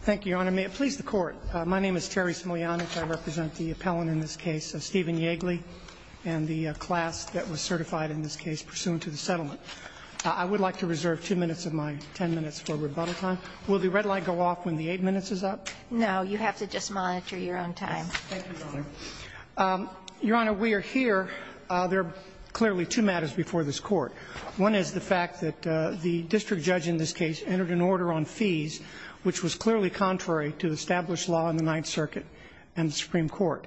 Thank you, Your Honor. May it please the Court, my name is Terry Smolianic. I represent the appellant in this case, Stephen Yeagley, and the class that was certified in this case pursuant to the settlement. I would like to reserve two minutes of my ten minutes for rebuttal time. Will the red light go off when the eight minutes is up? No, you have to just monitor your own time. Thank you, Your Honor. Your Honor, we are here. There are clearly two matters before this Court. One is the fact that the district judge in this case entered an order on fees, which was clearly contrary to established law in the Ninth Circuit and the Supreme Court.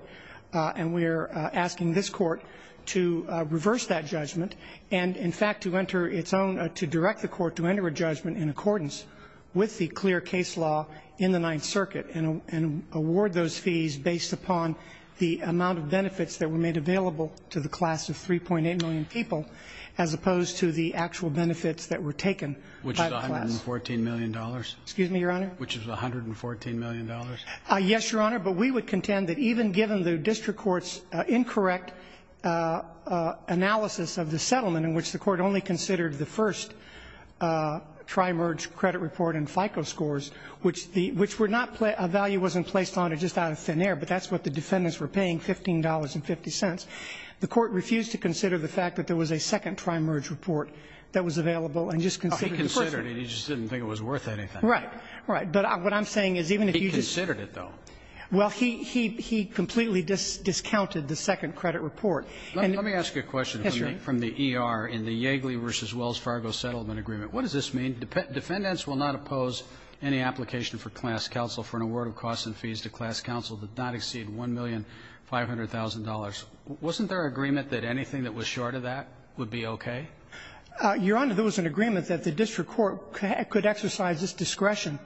And we are asking this Court to reverse that judgment and, in fact, to direct the Court to enter a judgment in accordance with the clear case law in the Ninth Circuit and award those fees based upon the amount of benefits that were made available to the class of 3.8 million people, as opposed to the actual benefits that were taken by the class. Which is $114 million? Excuse me, Your Honor? Which is $114 million? Yes, Your Honor, but we would contend that even given the district court's incorrect analysis of the settlement, in which the Court only considered the first tri-merge credit report and FICO scores, which the – which were not – a value wasn't placed on it just out of thin air, but that's what the defendants were paying, $15.50. The Court refused to consider the fact that there was a second tri-merge report that was available and just considered the first one. He considered it. He just didn't think it was worth anything. Right. Right. But what I'm saying is even if you just – He considered it, though. Well, he completely discounted the second credit report. Let me ask you a question. Yes, Your Honor. In your statement from the ER in the Yeagley v. Wells Fargo settlement agreement, what does this mean? Defendants will not oppose any application for class counsel for an award of costs and fees to class counsel that does not exceed $1,500,000. Wasn't there agreement that anything that was short of that would be okay? Your Honor, there was an agreement that the district court could exercise this discretion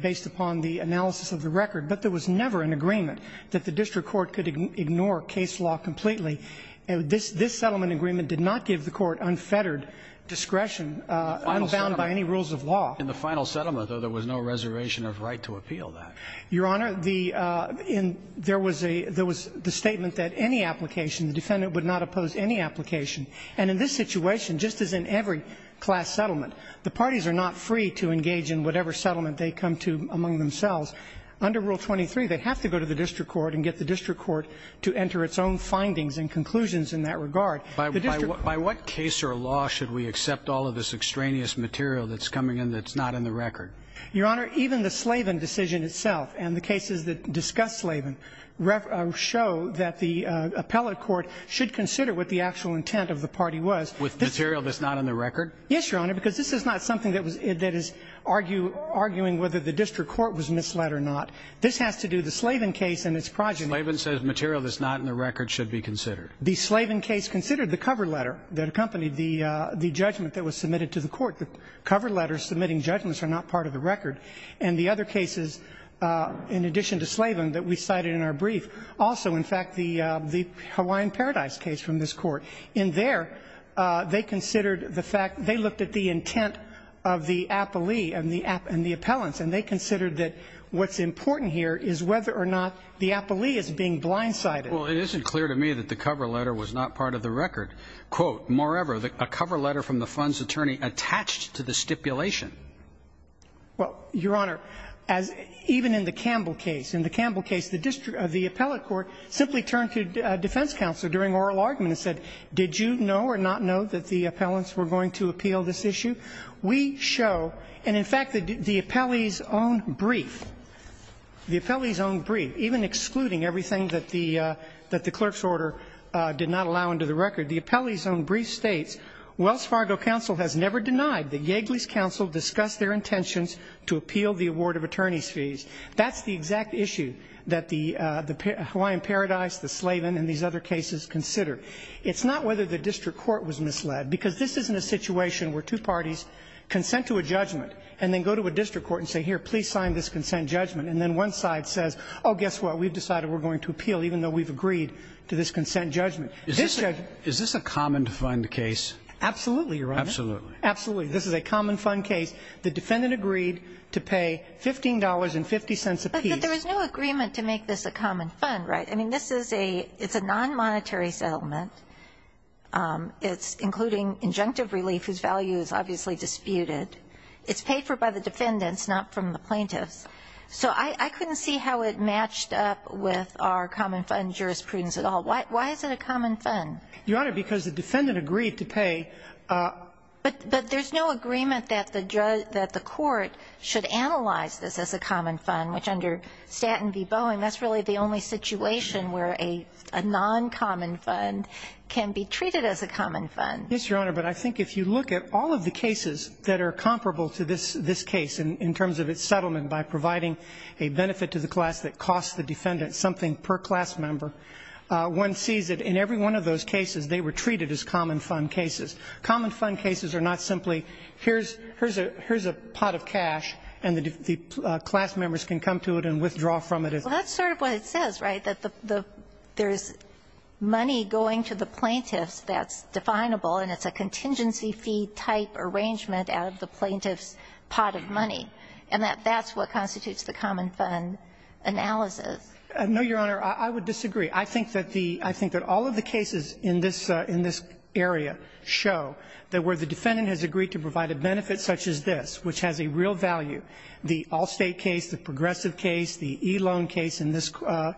based upon the analysis of the record, but there was never an agreement that the district court could ignore case law completely. This settlement agreement did not give the court unfettered discretion, unbound by any rules of law. In the final settlement, though, there was no reservation of right to appeal that. Your Honor, the – there was a – there was the statement that any application – the defendant would not oppose any application. And in this situation, just as in every class settlement, the parties are not free to engage in whatever settlement they come to among themselves. Under Rule 23, they have to go to the district court and get the district court to enter its own findings and conclusions in that regard. The district court – By what case or law should we accept all of this extraneous material that's coming in that's not in the record? Your Honor, even the Slavin decision itself and the cases that discuss Slavin show that the appellate court should consider what the actual intent of the party was. With material that's not in the record? Yes, Your Honor, because this is not something that is arguing whether the district court was misled or not. This has to do the Slavin case and its progeny. The Slavin says material that's not in the record should be considered. The Slavin case considered the cover letter that accompanied the judgment that was submitted to the court. The cover letters submitting judgments are not part of the record. And the other cases, in addition to Slavin, that we cited in our brief, also, in fact, the Hawaiian Paradise case from this court. In there, they considered the fact – they looked at the intent of the appellee and the appellants, and they considered that what's important here is whether or not the appellee is being blindsided. Well, it isn't clear to me that the cover letter was not part of the record. Quote, moreover, a cover letter from the fund's attorney attached to the stipulation. Well, Your Honor, as – even in the Campbell case. In the Campbell case, the district – the appellate court simply turned to defense counsel during oral argument and said, did you know or not know that the appellants were going to appeal this issue? We show – and, in fact, the appellee's own brief – the appellee's own brief even excluding everything that the – that the clerk's order did not allow under the record. The appellee's own brief states, Wells Fargo Council has never denied that Yagley's council discussed their intentions to appeal the award of attorney's fees. That's the exact issue that the Hawaiian Paradise, the Slavin, and these other cases considered. It's not whether the district court was misled, because this isn't a situation where two parties consent to a judgment and then go to a district court and say, here, please sign this consent judgment. And then one side says, oh, guess what, we've decided we're going to appeal, even though we've agreed to this consent judgment. Is this a common fund case? Absolutely, Your Honor. Absolutely. Absolutely. This is a common fund case. The defendant agreed to pay $15.50 apiece. But there was no agreement to make this a common fund, right? I mean, this is a – it's a nonmonetary settlement. It's including injunctive relief whose value is obviously disputed. It's paid for by the defendants, not from the plaintiffs. So I couldn't see how it matched up with our common fund jurisprudence at all. Why is it a common fund? Your Honor, because the defendant agreed to pay. But there's no agreement that the court should analyze this as a common fund, which under Staten v. Boeing, that's really the only situation where a noncommon fund can be treated as a common fund. Yes, Your Honor. But I think if you look at all of the cases that are comparable to this case in terms of its settlement by providing a benefit to the class that costs the defendant something per class member, one sees that in every one of those cases they were treated as common fund cases. Common fund cases are not simply here's a pot of cash and the class members can come to it and withdraw from it. Well, that's sort of what it says, right, that there's money going to the plaintiffs that's definable and it's a contingency fee type arrangement out of the plaintiffs' pot of money. And that that's what constitutes the common fund analysis. No, Your Honor. I would disagree. I think that all of the cases in this area show that where the defendant has agreed to provide a benefit such as this, which has a real value, the Allstate case, the Progressive case, the e-loan case in the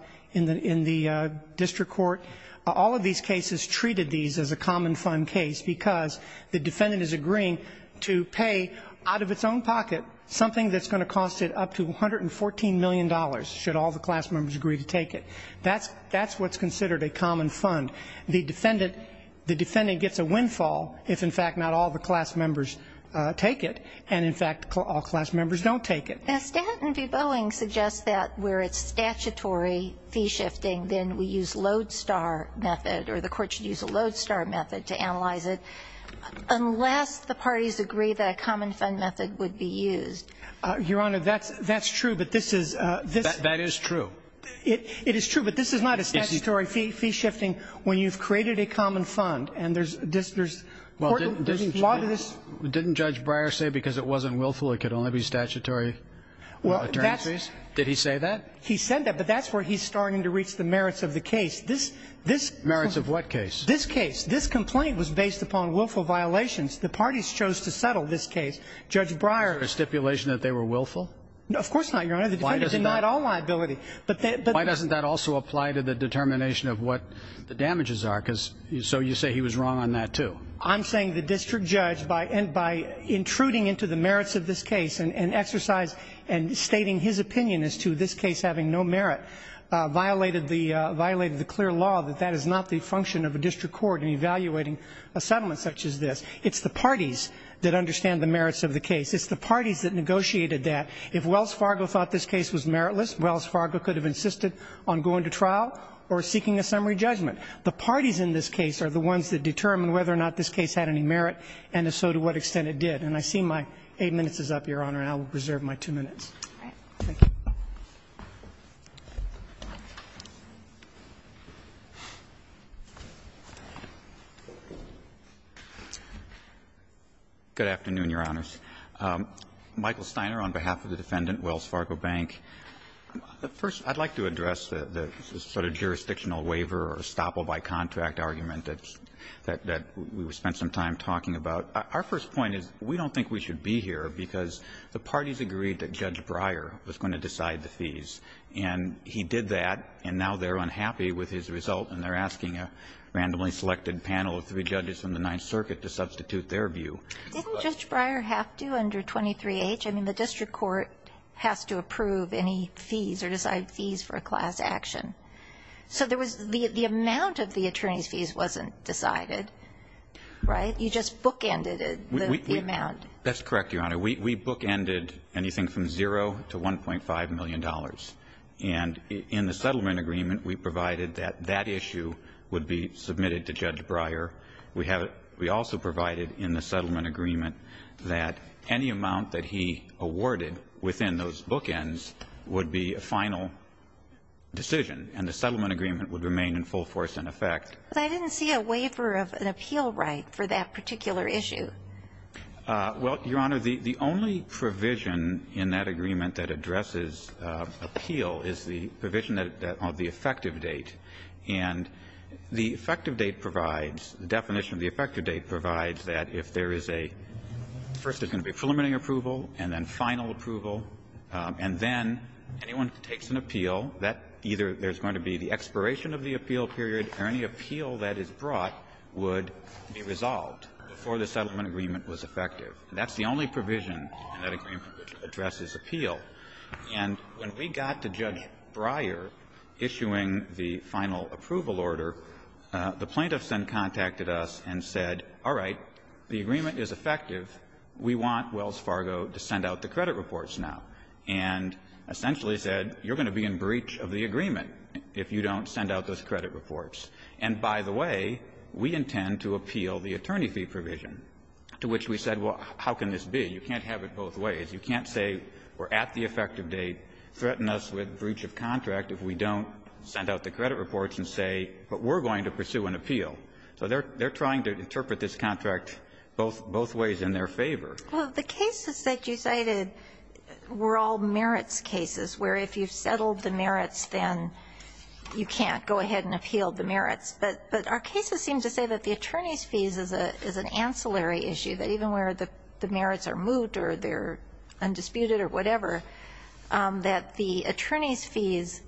district court, all of these cases treated these as a common fund case because the defendant is agreeing to pay out of its own pocket something that's going to cost it up to $114 million should all the class members agree to take it. That's what's considered a common fund. The defendant gets a windfall if, in fact, not all the class members take it and, in fact, all class members don't take it. Now, Stanton v. Boeing suggests that where it's statutory fee shifting then we use load star method or the court should use a load star method to analyze it unless the parties agree that a common fund method would be used. Your Honor, that's true. But this is this. That is true. It is true. But this is not a statutory fee shifting when you've created a common fund. And there's this there's a lot of this. Didn't Judge Breyer say because it wasn't willful it could only be statutory? Well, that's. Did he say that? He said that. But that's where he's starting to reach the merits of the case. This this. Merits of what case? This case. This complaint was based upon willful violations. The parties chose to settle this case. Judge Breyer. Was there a stipulation that they were willful? Of course not, Your Honor. The defendant denied all liability. Why doesn't that also apply to the determination of what the damages are? Because so you say he was wrong on that, too. I'm saying the district judge, by intruding into the merits of this case and exercise and stating his opinion as to this case having no merit, violated the clear law that that is not the function of a district court in evaluating a settlement such as this. It's the parties that understand the merits of the case. It's the parties that negotiated that. If Wells Fargo thought this case was meritless, Wells Fargo could have insisted on going to trial or seeking a summary judgment. The parties in this case are the ones that determine whether or not this case had any merit and so to what extent it did. And I see my eight minutes is up, Your Honor, and I will reserve my two minutes. Thank you. Good afternoon, Your Honors. Michael Steiner on behalf of the defendant, Wells Fargo Bank. First, I'd like to address the sort of jurisdictional waiver or estoppel-by-contract argument that we spent some time talking about. Our first point is we don't think we should be here because the parties agreed that Judge Breyer was going to decide the fees. And he did that, and now they're unhappy with his result and they're asking a randomly selected panel of three judges from the Ninth Circuit to substitute their view. Didn't Judge Breyer have to under 23H? I mean, the district court has to approve any fees or decide fees for a class action. So there was the amount of the attorney's fees wasn't decided, right? You just bookended the amount. That's correct, Your Honor. We bookended anything from zero to $1.5 million. And in the settlement agreement, we provided that that issue would be submitted to Judge Breyer. We also provided in the settlement agreement that any amount that he awarded within those bookends would be a final decision, and the settlement agreement would remain in full force in effect. But I didn't see a waiver of an appeal right for that particular issue. Well, Your Honor, the only provision in that agreement that addresses appeal is the provision of the effective date. And the effective date provides, the definition of the effective date provides that if there is a, first it's going to be preliminary approval and then final approval, and then anyone who takes an appeal, that either there's going to be the expiration of the appeal period or any appeal that is brought would be resolved before the settlement agreement was effective. That's the only provision in that agreement which addresses appeal. And when we got to Judge Breyer issuing the final approval order, the plaintiffs then contacted us and said, all right, the agreement is effective. We want Wells Fargo to send out the credit reports now. And essentially said, you're going to be in breach of the agreement if you don't send out those credit reports. And by the way, we intend to appeal the attorney fee provision, to which we said, well, how can this be? You can't have it both ways. You can't say we're at the effective date, threaten us with breach of contract if we don't send out the credit reports and say, but we're going to pursue an appeal. So they're trying to interpret this contract both ways in their favor. Well, the cases that you cited were all merits cases, where if you've settled the merits, then you can't go ahead and appeal the merits. But our cases seem to say that the attorney's fees is an ancillary issue, that even where the merits are moot or they're undisputed or whatever, that the attorney's fees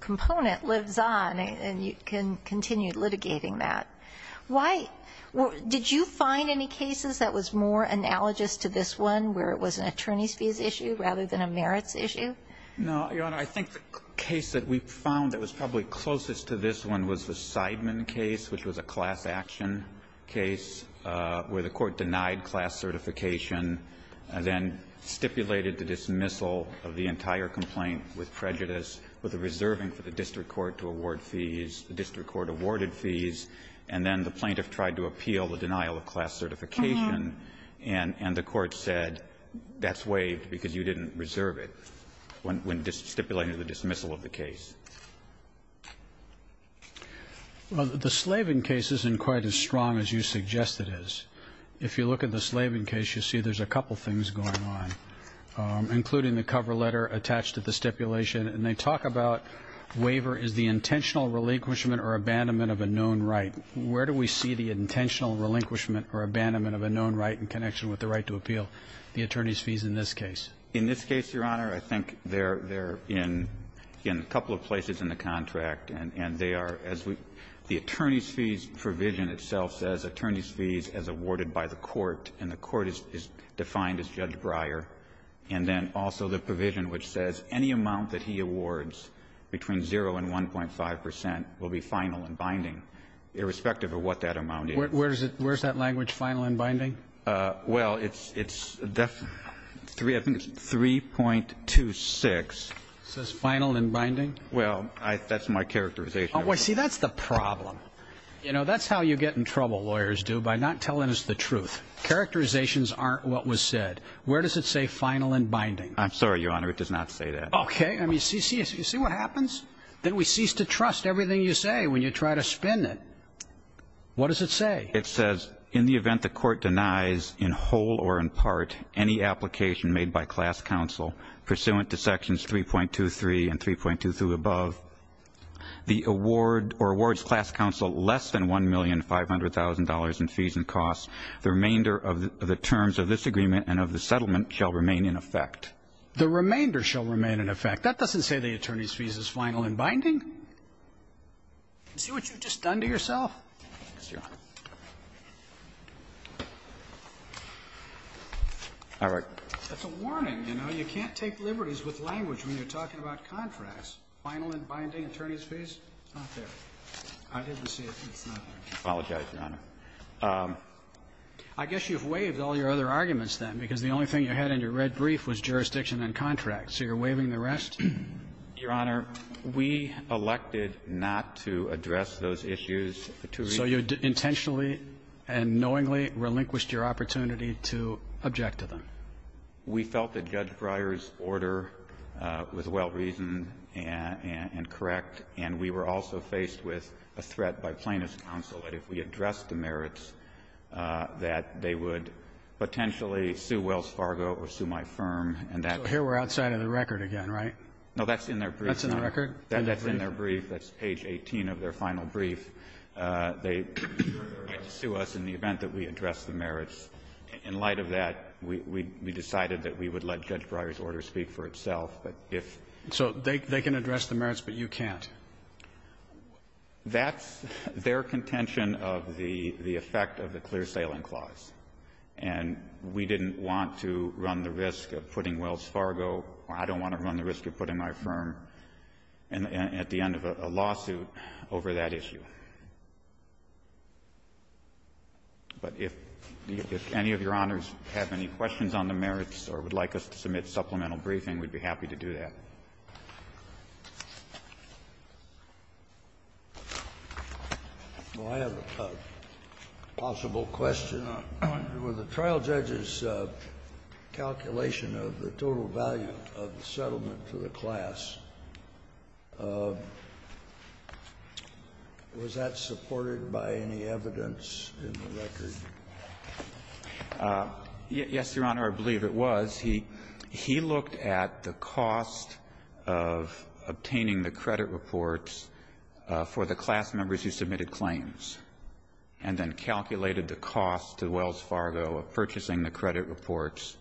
component lives on and you can continue litigating that. Why did you find any cases that was more analogous to this one, where it was an attorney's fees issue rather than a merits issue? No, Your Honor. I think the case that we found that was probably closest to this one was the Seidman case, which was a class action case where the court denied class certification and then stipulated the dismissal of the entire complaint with prejudice, with a reserving for the district court to award fees. The district court awarded fees, and then the plaintiff tried to appeal the denial of class certification. And the court said, that's waived because you didn't reserve it when stipulating the dismissal of the case. Well, the Slavin case isn't quite as strong as you suggest it is. If you look at the Slavin case, you see there's a couple things going on, including the cover letter attached to the stipulation. And they talk about waiver is the intentional relinquishment or abandonment of a known right. Where do we see the intentional relinquishment or abandonment of a known right in connection with the right to appeal? The attorney's fees in this case. In this case, Your Honor, I think they're in a couple of places in the contract. And they are, as the attorney's fees provision itself says, attorney's fees as awarded by the court, and the court is defined as Judge Breyer. And then also the provision which says any amount that he awards between 0 and 1.5 percent will be final and binding, irrespective of what that amount is. Where's that language, final and binding? Well, it's 3.26. It says final and binding? Well, that's my characterization. See, that's the problem. You know, that's how you get in trouble, lawyers do, by not telling us the truth. Characterizations aren't what was said. Where does it say final and binding? I'm sorry, Your Honor. It does not say that. Okay. I mean, you see what happens? Then we cease to trust everything you say when you try to spin it. What does it say? It says in the event the court denies in whole or in part any application made by class counsel pursuant to sections 3.23 and 3.2 through above, the award or awards class counsel less than $1,500,000 in fees and costs. The remainder of the terms of this agreement and of the settlement shall remain in effect. The remainder shall remain in effect. That doesn't say the attorney's fees is final and binding. You see what you've just done to yourself? Yes, Your Honor. All right. That's a warning, you know. You can't take liberties with language when you're talking about contracts. Final and binding attorney's fees? It's not there. I didn't see it. It's not there. I apologize, Your Honor. I guess you've waived all your other arguments, then, because the only thing you had in your red brief was jurisdiction and contract. So you're waiving the rest? Your Honor, we elected not to address those issues. So you intentionally and knowingly relinquished your opportunity to object to them? We felt that Judge Breyer's order was well-reasoned and correct, and we were also faced with a threat by Plaintiff's counsel that if we addressed the merits, that they would potentially sue Wells Fargo or sue my firm. So here we're outside of the record again, right? No, that's in their brief. That's in the record? That's in their brief. That's page 18 of their final brief. They get to sue us in the event that we address the merits. In light of that, we decided that we would let Judge Breyer's order speak for itself. So they can address the merits, but you can't? That's their contention of the effect of the Clear Sailing Clause. And we didn't want to run the risk of putting Wells Fargo, or I don't want to run the risk of putting my firm at the end of a lawsuit over that issue. But if any of Your Honors have any questions on the merits or would like us to submit supplemental briefing, we'd be happy to do that. Kennedy. Well, I have a possible question. With the trial judge's calculation of the total value of the settlement to the class, was that supported by any evidence in the record? Yes, Your Honor, I believe it was. He looked at the cost of obtaining the credit reports for the class members who submitted claims and then calculated the cost to Wells Fargo of purchasing the credit reports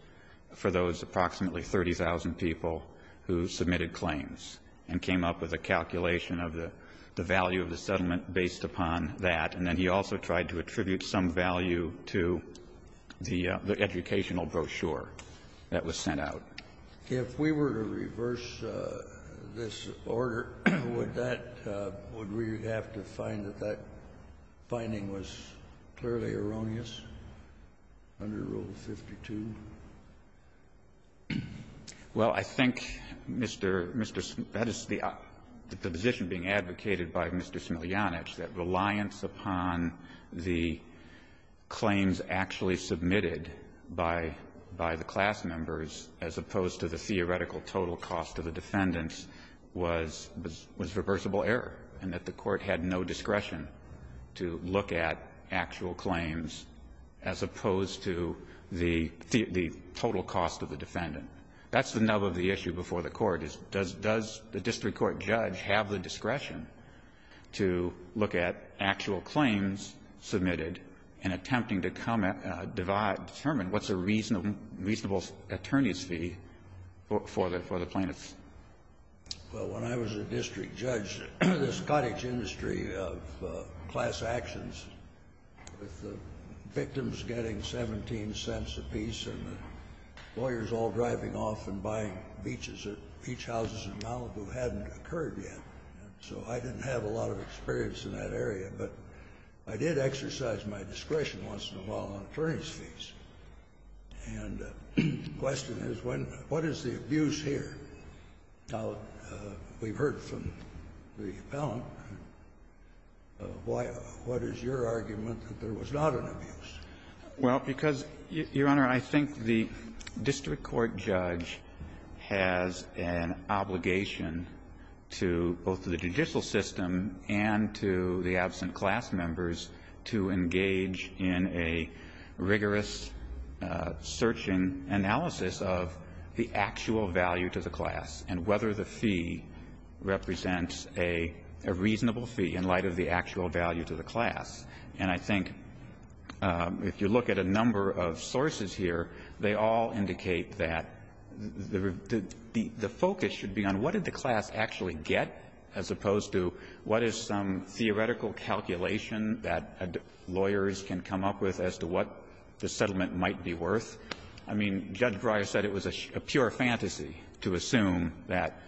for those approximately 30,000 people who submitted claims and came up with a calculation of the value of the settlement based upon that. And then he also tried to attribute some value to the educational brochure that was sent out. If we were to reverse this order, would that – would we have to find that that finding was clearly erroneous under Rule 52? Well, I think, Mr. – that is the position being advocated by Mr. Smiljanic, that reliance upon the claims actually submitted by the class members, as opposed to the theoretical total cost of the defendants, was reversible error, and that the Court had no discretion to look at actual claims as opposed to the total cost of the defendant. That's the nub of the issue before the Court, is does the district court judge have the discretion to look at actual claims submitted in attempting to determine what's a reasonable attorney's fee for the plaintiffs? Well, when I was a district judge, the Scottish industry of class actions, with the victims getting 17 cents apiece and the lawyers all driving off and buying beaches at beach houses in Malibu, hadn't occurred yet, so I didn't have a lot of experience in that area. But I did exercise my discretion once in a while on attorney's fees. And the question is, when – what is the abuse here? Now, we've heard from the appellant. Why – what is your argument that there was not an abuse? Well, because, Your Honor, I think the district court judge has an obligation to both the judicial system and to the absent class members to engage in a rigorous search and analysis of the actual value to the class and whether the fee represents a reasonable fee in light of the actual value to the class. And I think if you look at a number of sources here, they all indicate that the focus should be on what did the class actually get as opposed to what is some theoretical calculation that lawyers can come up with as to what the settlement might be worth. I mean, Judge Breyer said it was a pure fantasy to assume that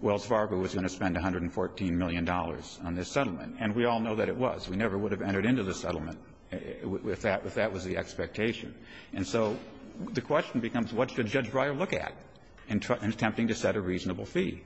Wells Fargo was going to spend $114 million on this settlement, and we all know that it was. We never would have entered into the settlement if that was the expectation. And so the question becomes, what should Judge Breyer look at in attempting to set a reasonable fee?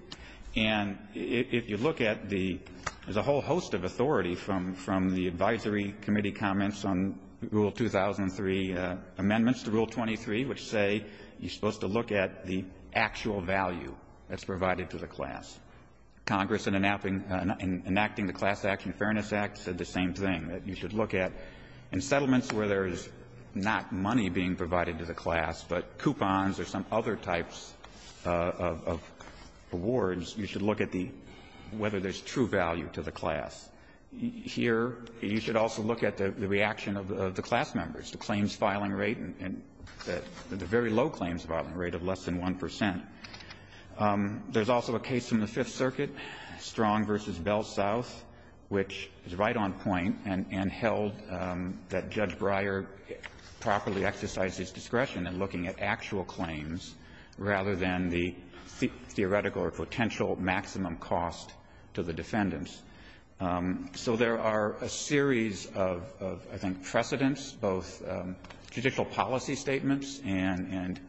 And if you look at the – there's a whole host of authority from the advisory committee comments on Rule 2003 amendments to Rule 23 which say you're supposed to look at the actual value that's provided to the class. Congress, in enacting the Class Action Fairness Act, said the same thing, that you should look at in settlements where there is not money being provided to the class but coupons or some other types of rewards, you should look at the – whether there's true value to the class. Here, you should also look at the reaction of the class members, the claims filing rate, and the very low claims filing rate of less than 1 percent. There's also a case from the Fifth Circuit, Strong v. Bell South, which is right on point and held that Judge Breyer properly exercised his discretion in looking at actual claims rather than the theoretical or potential maximum cost to the defendants. So there are a series of, I think, precedents, both judicial policy statements and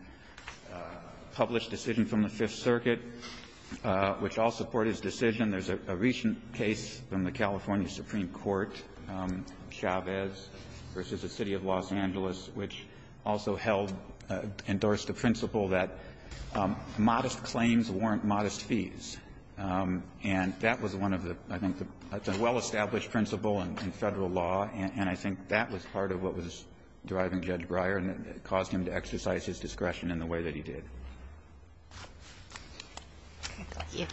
published decisions from the Fifth Circuit, which all support his decision. There's a recent case from the California Supreme Court, Chavez v. the City of Los Angeles, which also held – endorsed the principle that modest claims warrant modest fees. And that was one of the – I think it's a well-established principle in Federal law, and I think that was part of what was driving Judge Breyer and caused him to exercise his discretion in the way that he did. Kagan.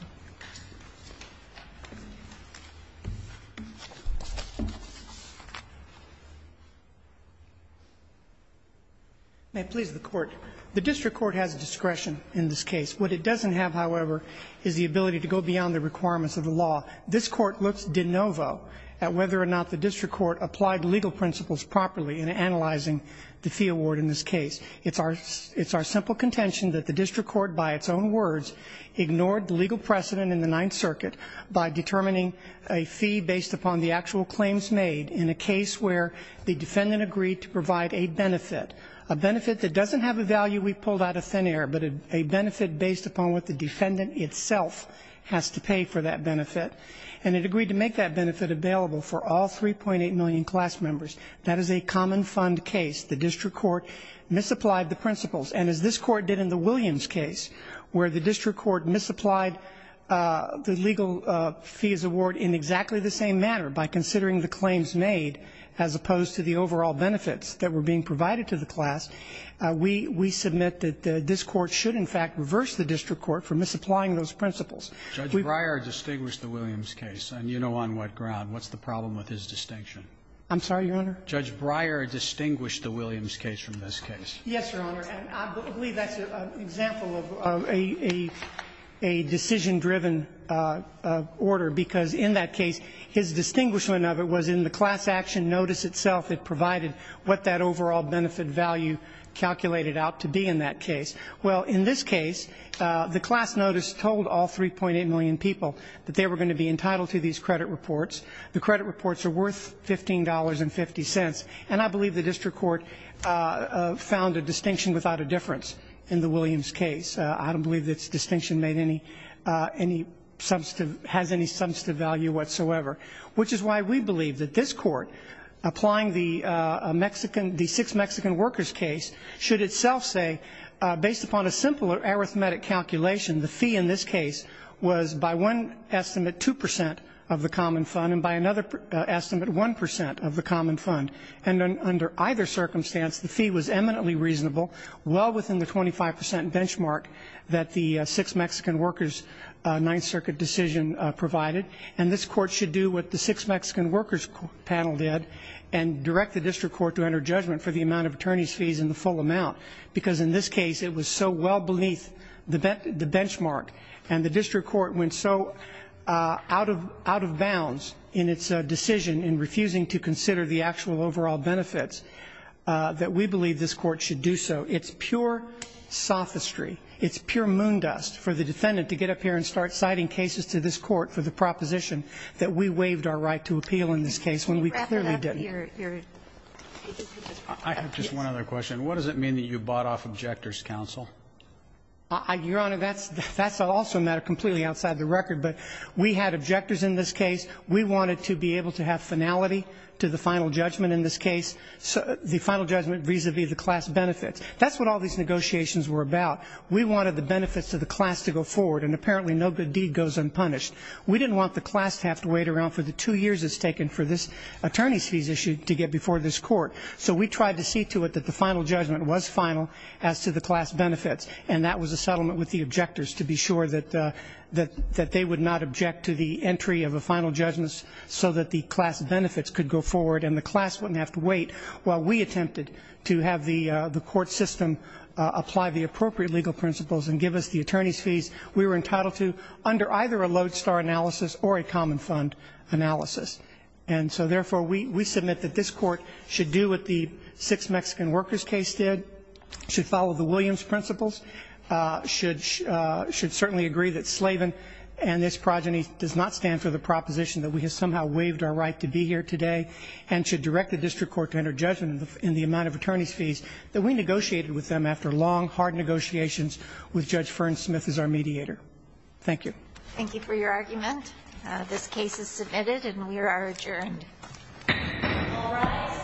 May it please the Court. The district court has discretion in this case. What it doesn't have, however, is the ability to go beyond the requirements of the law. This Court looks de novo at whether or not the district court applied legal principles properly in analyzing the fee award in this case. It's our – it's our simple contention that the district court, by its own words, ignored the legal precedent in the Ninth Circuit by determining a fee based upon the actual claims made in a case where the defendant agreed to provide a benefit, a benefit that doesn't have a value we've pulled out of thin air, but a benefit based upon what the defendant itself has to pay for that benefit. And it agreed to make that benefit available for all 3.8 million class members. That is a common fund case. The district court misapplied the principles, and as this court did in the Williams case, where the district court misapplied the legal fees award in exactly the same manner by considering the claims made as opposed to the overall benefits that were being provided to the class, we – we submit that this court should in fact reverse the district court for misapplying those principles. We've – Judge Breyer distinguished the Williams case, and you know on what ground. What's the problem with his distinction? I'm sorry, Your Honor? Judge Breyer distinguished the Williams case from this case. Yes, Your Honor. And I believe that's an example of a – a decision-driven order, because in that case, his distinguishment of it was in the class action notice itself. It provided what that overall benefit value calculated out to be in that case. Well, in this case, the class notice told all 3.8 million people that they were going to be entitled to these credit reports. The credit reports are worth $15.50. And I believe the district court found a distinction without a difference in the Williams case. I don't believe this distinction made any – any substantive – has any substantive value whatsoever. Which is why we believe that this court applying the Mexican – the Sixth Mexican Workers case should itself say, based upon a simple arithmetic calculation, the fee in this case was by one estimate 2 percent of the common fund, and by another estimate 1 percent of the common fund. And under either circumstance, the fee was eminently reasonable, well within the 25 percent benchmark that the Sixth Mexican Workers Ninth Circuit decision provided. And this court should do what the Sixth Mexican Workers panel did, and direct the district court to enter judgment for the amount of attorneys' fees and the full amount. Because in this case, it was so well beneath the benchmark, and the district court went so out of – out of bounds in its decision in refusing to consider the actual overall benefits, that we believe this court should do so. It's pure sophistry. It's pure moondust for the defendant to get up here and start citing cases to this opposition, that we waived our right to appeal in this case, when we clearly didn't. I have just one other question. What does it mean that you bought off objectors' counsel? Your Honor, that's also a matter completely outside the record. But we had objectors in this case. We wanted to be able to have finality to the final judgment in this case, the final judgment vis-a-vis the class benefits. That's what all these negotiations were about. We wanted the benefits to the class to go forward, and apparently no good deed goes unpunished. We didn't want the class to have to wait around for the two years it's taken for this attorney's fees issue to get before this court. So we tried to see to it that the final judgment was final as to the class benefits, and that was a settlement with the objectors to be sure that they would not object to the entry of a final judgment so that the class benefits could go forward and the class wouldn't have to wait. While we attempted to have the court system apply the appropriate legal principles and give us the attorney's fees, we were entitled to under either a lodestar analysis or a common fund analysis. And so, therefore, we submit that this court should do what the Six Mexican Workers case did, should follow the Williams principles, should certainly agree that Slavin and this progeny does not stand for the proposition that we have somehow waived our right to be here today, and should direct the district court to enter judgment in the amount of attorney's fees that we negotiated with them after long, hard negotiations with Judge Fern Smith as our mediator. Thank you. Thank you for your argument. This case is submitted and we are adjourned. All rise.